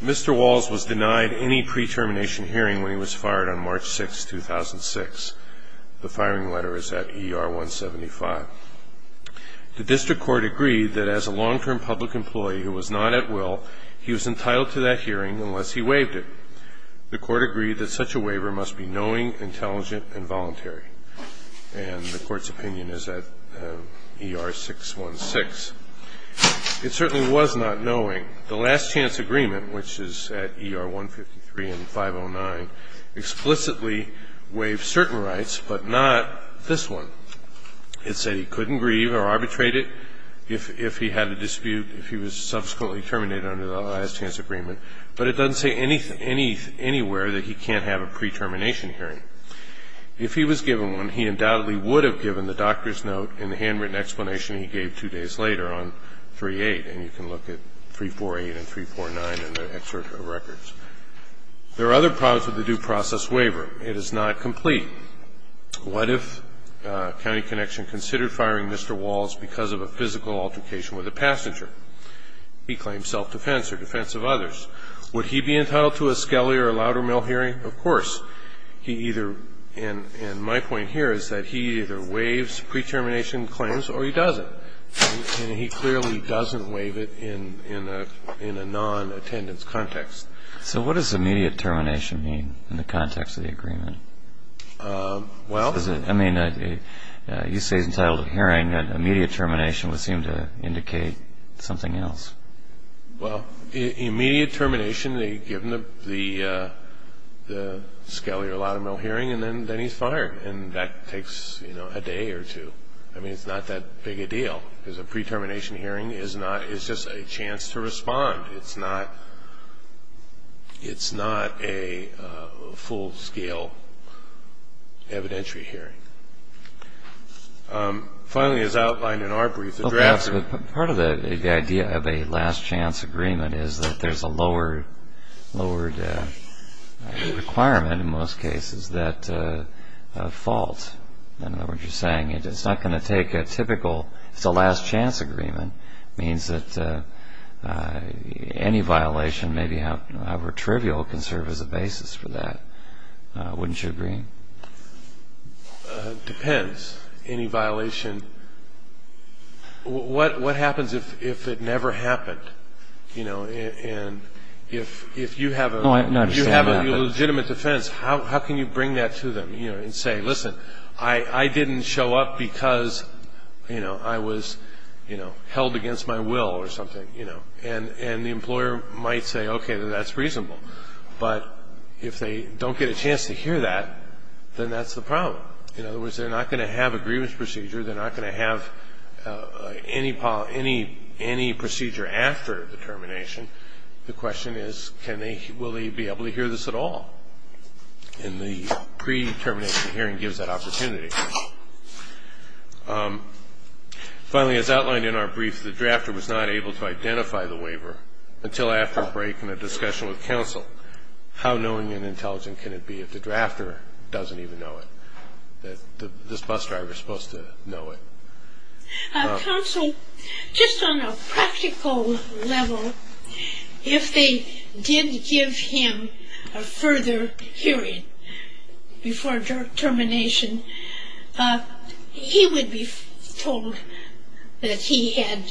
Mr. Walls was denied any pre-termination hearing when he was fired on March 6, 2006. The firing letter is at ER-175. The district court agreed that as a long-term public employee who was not at will, he was entitled to that hearing unless he waived it. The court agreed that such a waiver must be knowing, intelligent, and voluntary. And the court's opinion is at ER-616. It certainly was not knowing. The last chance agreement, which is at ER-153 and 509, explicitly waived certain rights, but not this one. It said he couldn't grieve or arbitrate it if he had a dispute, if he was subsequently terminated under the last chance agreement. But it doesn't say anywhere that he can't have a pre-termination hearing. If he was given one, he undoubtedly would have given the doctor's note and the handwritten explanation he gave two days later on 3-8. And you can look at 3-4-8 and 3-4-9 in the excerpt of records. There are other problems with the due process waiver. It is not complete. What if County Connection considered firing Mr. Walls because of a physical altercation with a passenger? He claims self-defense or defense of others. Would he be entitled to a Skelly or a Loudermill hearing? Of course. He either – and my point here is that he either waives pre-termination claims or he doesn't. And he clearly doesn't waive it in a non-attendance context. So what does immediate termination mean in the context of the agreement? Well – You say he's entitled to a hearing. Immediate termination would seem to indicate something else. Well, immediate termination, given the Skelly or Loudermill hearing, and then he's fired. And that takes a day or two. I mean, it's not that big a deal. Because a pre-termination hearing is not – it's just a chance to respond. It's not – it's not a full-scale evidentiary hearing. Finally, as outlined in our brief, the draft – Part of the idea of a last-chance agreement is that there's a lowered requirement, in most cases, that a fault – I don't know what you're saying – it's not going to take a typical – Any violation, maybe however trivial, can serve as a basis for that. Wouldn't you agree? Depends. Any violation – what happens if it never happened? And if you have a legitimate defense, how can you bring that to them and say, listen, I didn't show up because I was held against my will or something. And the employer might say, okay, that's reasonable. But if they don't get a chance to hear that, then that's the problem. In other words, they're not going to have a grievance procedure. They're not going to have any procedure after the termination. The question is, can they – will they be able to hear this at all? And the pre-termination hearing gives that opportunity. Finally, as outlined in our brief, the drafter was not able to identify the waiver until after a break and a discussion with counsel. How knowing and intelligent can it be if the drafter doesn't even know it, that this bus driver is supposed to know it? Counsel, just on a practical level, if they did give him a further hearing before termination, he would be told that he had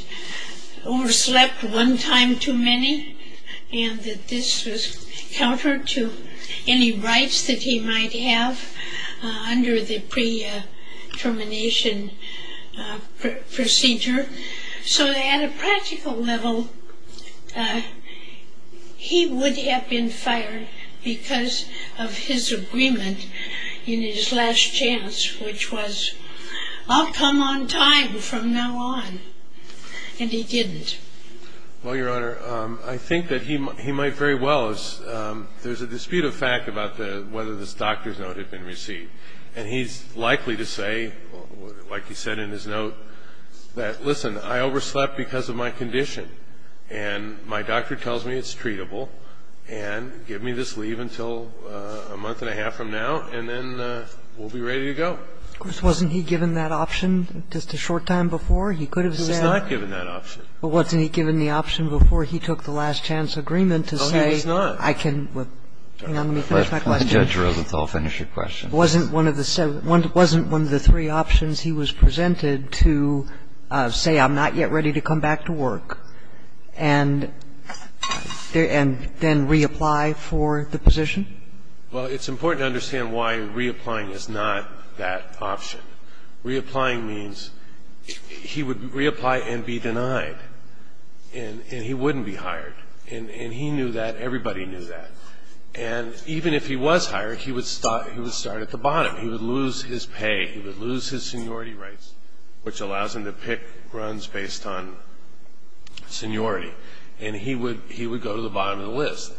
overslept one time too many and that this was counter to any rights that he might have under the pre-termination procedure. So at a practical level, he would have been fired because of his agreement in his last chance, which was, I'll come on time from now on. And he didn't. Well, Your Honor, I think that he might very well – there's a dispute of fact about whether this doctor's note had been received. And he's likely to say, like he said in his note, that, listen, I overslept because of my condition. And my doctor tells me it's treatable. And give me this leave until a month and a half from now, and then we'll be ready to go. Wasn't he given that option just a short time before? He could have said – He was not given that option. But wasn't he given the option before he took the last chance agreement to say – No, he was not. I can – hang on, let me finish my question. Let Judge Rosenthal finish your question. Wasn't one of the – wasn't one of the three options he was presented to say, I'm not yet ready to come back to work and then reapply for the position? Well, it's important to understand why reapplying is not that option. Reapplying means he would reapply and be denied, and he wouldn't be hired. And he knew that. Everybody knew that. And even if he was hired, he would start at the bottom. He would lose his pay. He would lose his seniority rights, which allows him to pick runs based on seniority. And he would go to the bottom of the list.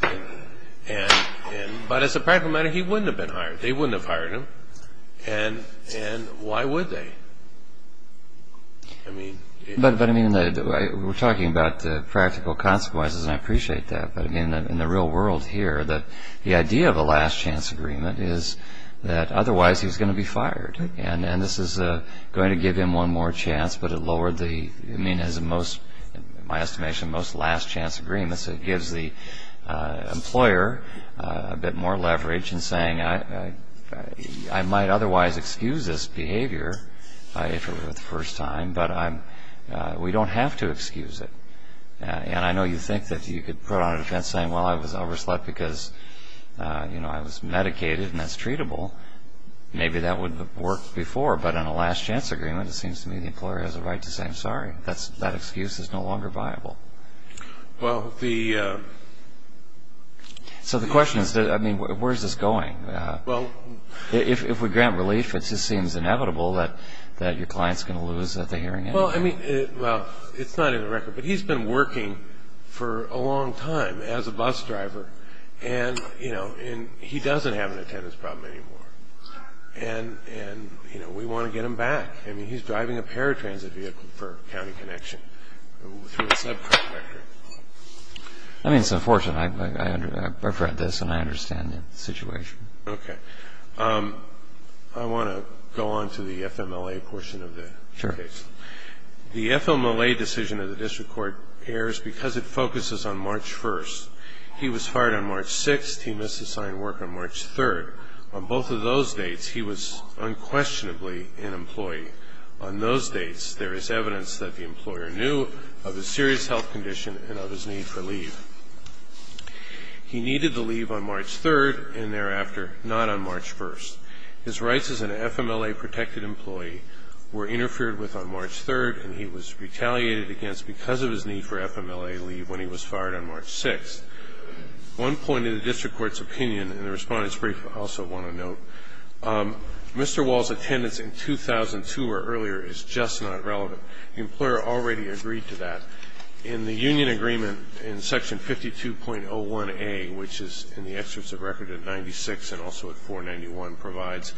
But as a practical matter, he wouldn't have been hired. They wouldn't have hired him. And why would they? But, I mean, we're talking about practical consequences, and I appreciate that. But, I mean, in the real world here, the idea of a last-chance agreement is that otherwise he's going to be fired. And this is going to give him one more chance, but it lowered the – I mean, it has the most, in my estimation, most last-chance agreements. It gives the employer a bit more leverage in saying, I might otherwise excuse this behavior if it were the first time, but we don't have to excuse it. And I know you think that you could put on a defense saying, well, I was overslept because, you know, I was medicated and that's treatable. Maybe that would have worked before. But in a last-chance agreement, it seems to me the employer has a right to say, I'm sorry. That excuse is no longer viable. Well, the – So the question is, I mean, where is this going? If we grant relief, it just seems inevitable that your client is going to lose at the hearing anyway. Well, I mean – well, it's not in the record. But he's been working for a long time as a bus driver, and, you know, he doesn't have an attendance problem anymore. And, you know, we want to get him back. I mean, he's driving a paratransit vehicle for County Connection through a subcontractor. I mean, it's unfortunate. I under – I've read this, and I understand the situation. Okay. I want to go on to the FMLA portion of the case. The FMLA decision of the district court errs because it focuses on March 1st. He was hired on March 6th. He must assign work on March 3rd. On both of those dates, he was unquestionably an employee. On those dates, there is evidence that the employer knew of a serious health condition and of his need for leave. He needed the leave on March 3rd and thereafter, not on March 1st. His rights as an FMLA-protected employee were interfered with on March 3rd, and he was retaliated against because of his need for FMLA leave when he was fired on March 6th. One point in the district court's opinion, and the Respondent's brief also want to note, Mr. Wall's attendance in 2002 or earlier is just not relevant. The employer already agreed to that. In the union agreement in Section 52.01a, which is in the excerpts of record at 96 and also at 491, provides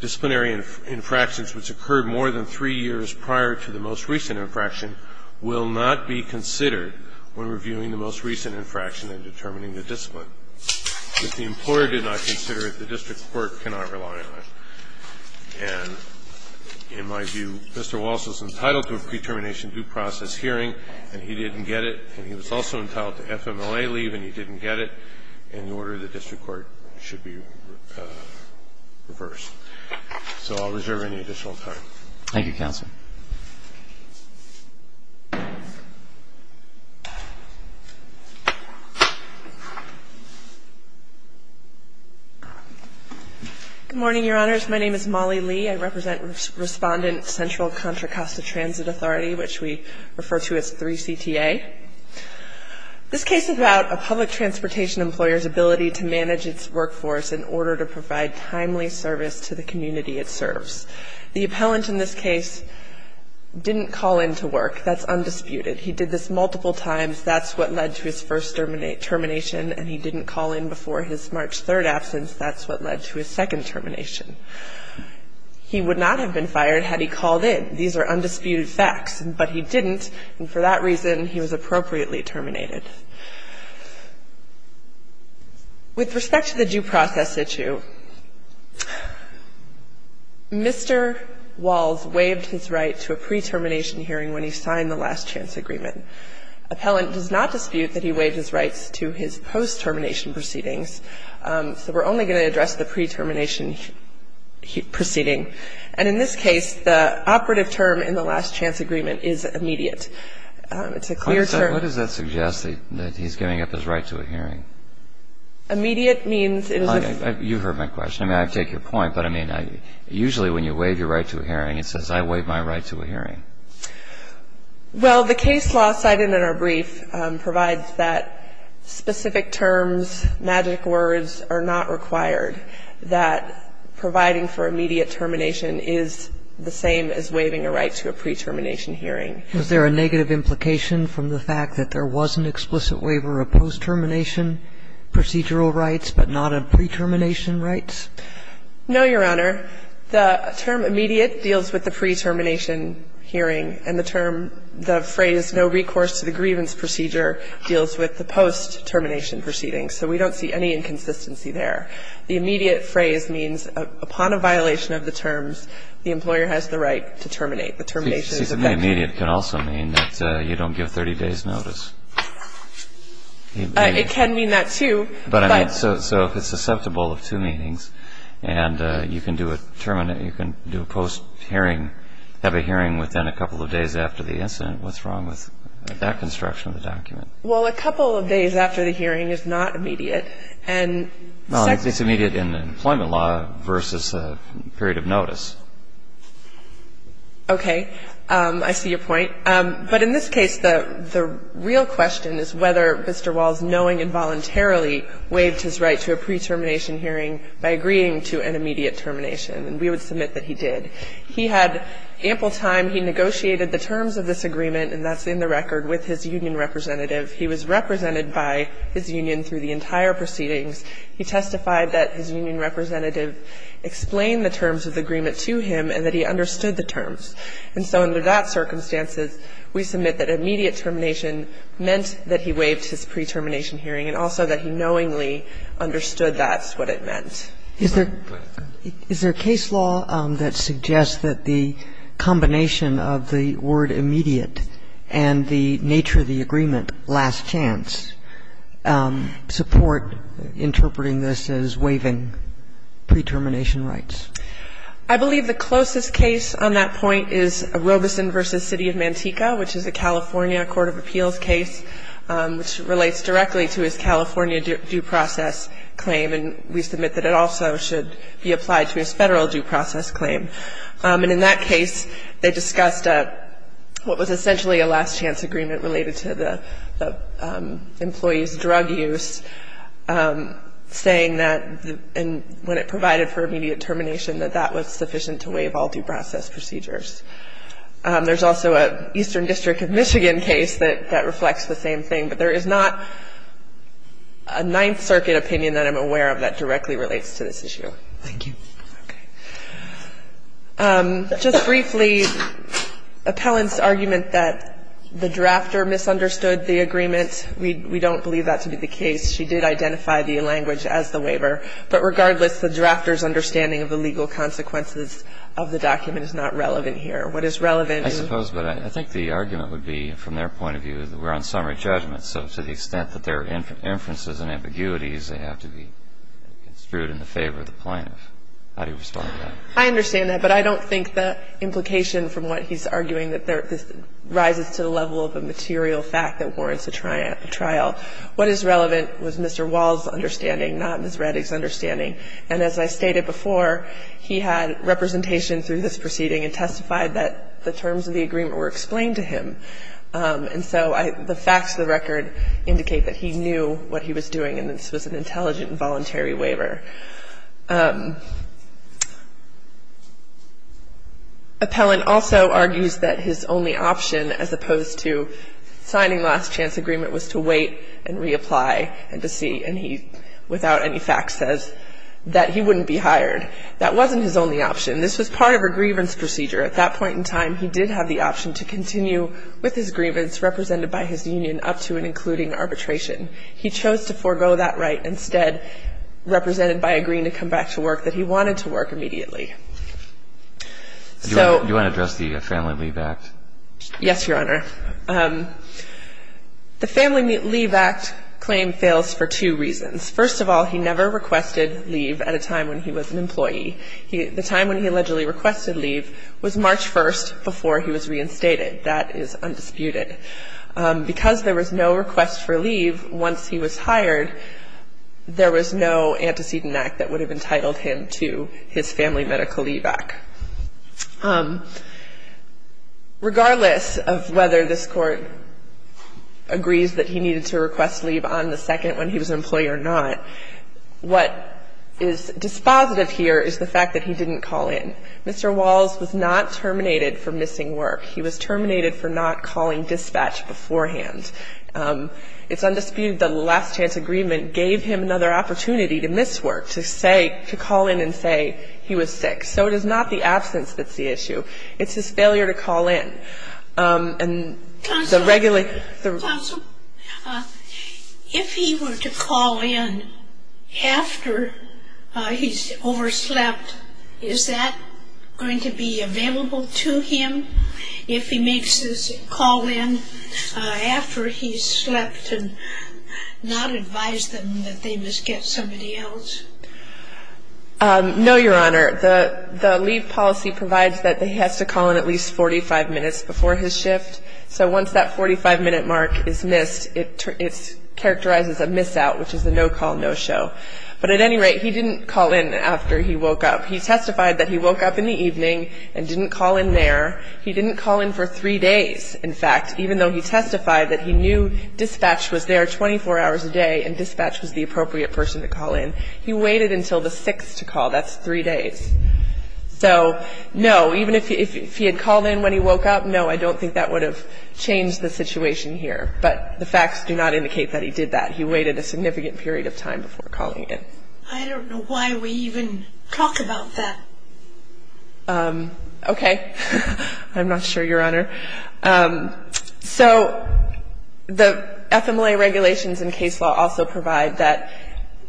disciplinary infractions which occurred more than three years prior to the most recent infraction will not be considered when reviewing the most recent infraction and determining the discipline. If the employer did not consider it, the district court cannot rely on it. And in my view, Mr. Wall is entitled to a pre-termination due process hearing, and he didn't get it. And he was also entitled to FMLA leave, and he didn't get it. And the order of the district court should be reversed. So I'll reserve any additional time. Thank you, Counsel. Good morning, Your Honors. My name is Molly Lee. I represent Respondent Central Contra Costa Transit Authority, which we refer to as 3CTA. This case is about a public transportation employer's ability to manage its workforce in order to provide timely service to the community it serves. The appellant in this case didn't call in to work. That's undisputed. He did this multiple times. That's what led to his first termination. And he didn't call in before his March 3rd absence. That's what led to his second termination. He would not have been fired had he called in. These are undisputed facts. But he didn't. He was appropriately terminated. And for that reason, he was appropriately terminated. With respect to the due process issue, Mr. Walls waived his right to a pre-termination hearing when he signed the last-chance agreement. Appellant does not dispute that he waived his rights to his post-termination proceedings. So we're only going to address the pre-termination proceeding. And in this case, the operative term in the last-chance agreement is immediate. It's a clear term. What does that suggest, that he's giving up his right to a hearing? Immediate means it is a... You heard my question. I mean, I take your point. But, I mean, usually when you waive your right to a hearing, it says, I waive my right to a hearing. Well, the case law cited in our brief provides that specific terms, magic words, are not required, that providing for immediate termination is the same as waiving a right to a pre-termination hearing. Was there a negative implication from the fact that there was an explicit waiver of post-termination procedural rights but not of pre-termination rights? No, Your Honor. The term immediate deals with the pre-termination hearing, and the term, the phrase no recourse to the grievance procedure deals with the post-termination proceedings, so we don't see any inconsistency there. The immediate phrase means upon a violation of the terms, the employer has the right to terminate. The termination is effective. She said the immediate can also mean that you don't give 30 days' notice. It can mean that, too, but... So if it's susceptible of two meetings and you can do a post-hearing, have a hearing within a couple of days after the incident, what's wrong with that construction of the document? Well, a couple of days after the hearing is not immediate. And... Well, I think it's immediate in the employment law versus a period of notice. Okay. I see your point. But in this case, the real question is whether Mr. Walls, knowing involuntarily, waived his right to a pre-termination hearing by agreeing to an immediate termination, and we would submit that he did. He had ample time. He negotiated the terms of this agreement, and that's in the record with his union representative. He was represented by his union through the entire proceedings. He testified that his union representative explained the terms of the agreement to him and that he understood the terms. And so under that circumstances, we submit that immediate termination meant that he waived his pre-termination hearing and also that he knowingly understood that's what it meant. Is there a case law that suggests that the combination of the word immediate and the nature of the agreement, last chance, support interpreting this as waiving pre-termination rights? I believe the closest case on that point is Robeson v. City of Manteca, which is a California court of appeals case, which relates directly to his California due process claim. And we submit that it also should be applied to his Federal due process claim. And in that case, they discussed what was essentially a last chance agreement related to the employee's drug use, saying that when it provided for immediate termination, that that was sufficient to waive all due process procedures. There's also an Eastern District of Michigan case that reflects the same thing. But there is not a Ninth Circuit opinion that I'm aware of that directly relates to this issue. Just briefly, Appellant's argument that the drafter misunderstood the agreement, we don't believe that to be the case. She did identify the language as the waiver. But regardless, the drafter's understanding of the legal consequences of the document is not relevant here. What is relevant is the law. And I'm not going to go into the specifics of the argument. I'm just going to say that I don't believe that the drafter misunderstood the agreement. So to the extent that there are inferences and ambiguities, they have to be construed in the favor of the plaintiff. How do you respond to that? I understand that. But I don't think the implication from what he's arguing, that this rises to the level of a material fact that warrants a trial. What is relevant was Mr. Wall's understanding, not Ms. Rettig's understanding. And as I stated before, he had representation through this proceeding and testified that the terms of the agreement were explained to him. And so the facts of the record indicate that he knew what he was doing and that this was an intelligent and voluntary waiver. Appellant also argues that his only option as opposed to signing last chance agreement was to wait and reapply and to see. And he, without any facts, says that he wouldn't be hired. That wasn't his only option. This was part of a grievance procedure. At that point in time, he did have the option to continue with his grievance represented by his union up to and including arbitration. He chose to forego that right instead, represented by agreeing to come back to work that he wanted to work immediately. Do you want to address the Family Leave Act? Yes, Your Honor. The Family Leave Act claim fails for two reasons. First of all, he never requested leave at a time when he was an employee. The time when he allegedly requested leave was March 1st before he was reinstated. That is undisputed. Because there was no request for leave once he was hired, there was no antecedent act that would have entitled him to his Family Medical Leave Act. Regardless of whether this Court agrees that he needed to request leave on the second when he was an employee or not, what is dispositive here is the fact that he didn't call in. Mr. Walls was not terminated for missing work. He was terminated for not calling dispatch beforehand. It's undisputed that the last chance agreement gave him another opportunity to miss work, to say to call in and say he was sick. So it is not the absence that's the issue. It's his failure to call in. Counsel, if he were to call in after he's overslept, is that going to be available to him if he makes his call in after he's slept and not advise them that they must get somebody else? No, Your Honor. The leave policy provides that he has to call in at least 45 minutes before his shift. So once that 45-minute mark is missed, it's characterized as a miss out, which is a no-call, no-show. But at any rate, he didn't call in after he woke up. He testified that he woke up in the evening and didn't call in there. He didn't call in for three days, in fact, even though he testified that he knew dispatch was there 24 hours a day and dispatch was the appropriate person to call in. He waited until the 6th to call. That's three days. So no, even if he had called in when he woke up, no, I don't think that would have changed the situation here. But the facts do not indicate that he did that. He waited a significant period of time before calling in. I don't know why we even talk about that. Okay. I'm not sure, Your Honor. So the FMLA regulations and case law also provide that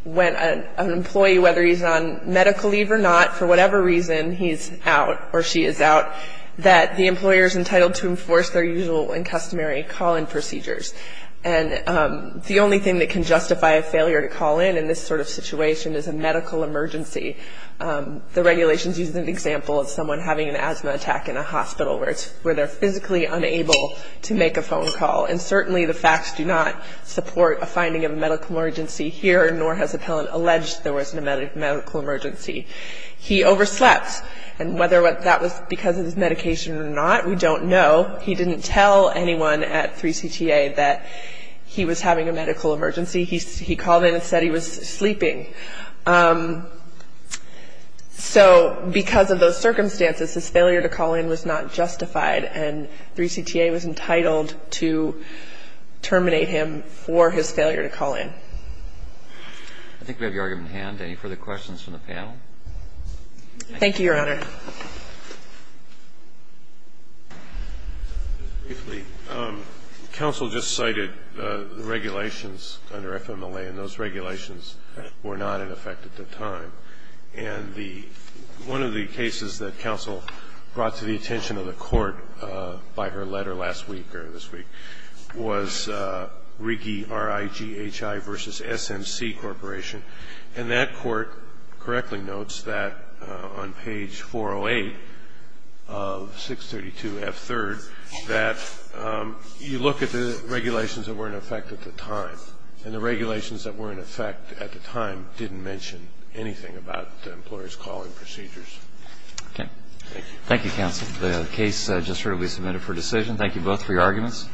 when an employee, whether he's on medical leave or not, for whatever reason, he's out or she is out, that the employer is entitled to enforce their usual and customary call-in procedures. And the only thing that can justify a failure to call in in this sort of situation is a medical emergency. The regulations use an example of someone having an asthma attack in a hospital where they're physically unable to make a phone call. And certainly the facts do not support a finding of a medical emergency here, nor has appellant alleged there wasn't a medical emergency. He overslept. And whether that was because of his medication or not, we don't know. He didn't tell anyone at 3CTA that he was having a medical emergency. He called in and said he was sleeping. So because of those circumstances, his failure to call in was not justified. And 3CTA was entitled to terminate him for his failure to call in. I think we have your argument at hand. Any further questions from the panel? Thank you, Your Honor. Thank you. Counsel just cited the regulations under FMLA, and those regulations were not in effect at the time. And one of the cases that counsel brought to the attention of the court by her letter last week or this week was Righi, R-I-G-H-I v. S-M-C Corporation. And that court correctly notes that on page 408 of 632 F-3rd that you look at the regulations that were in effect at the time, and the regulations that were in effect at the time didn't mention anything about the employer's calling procedures. Okay. Thank you. Thank you, counsel. The case just shortly submitted for decision. Thank you both for your arguments.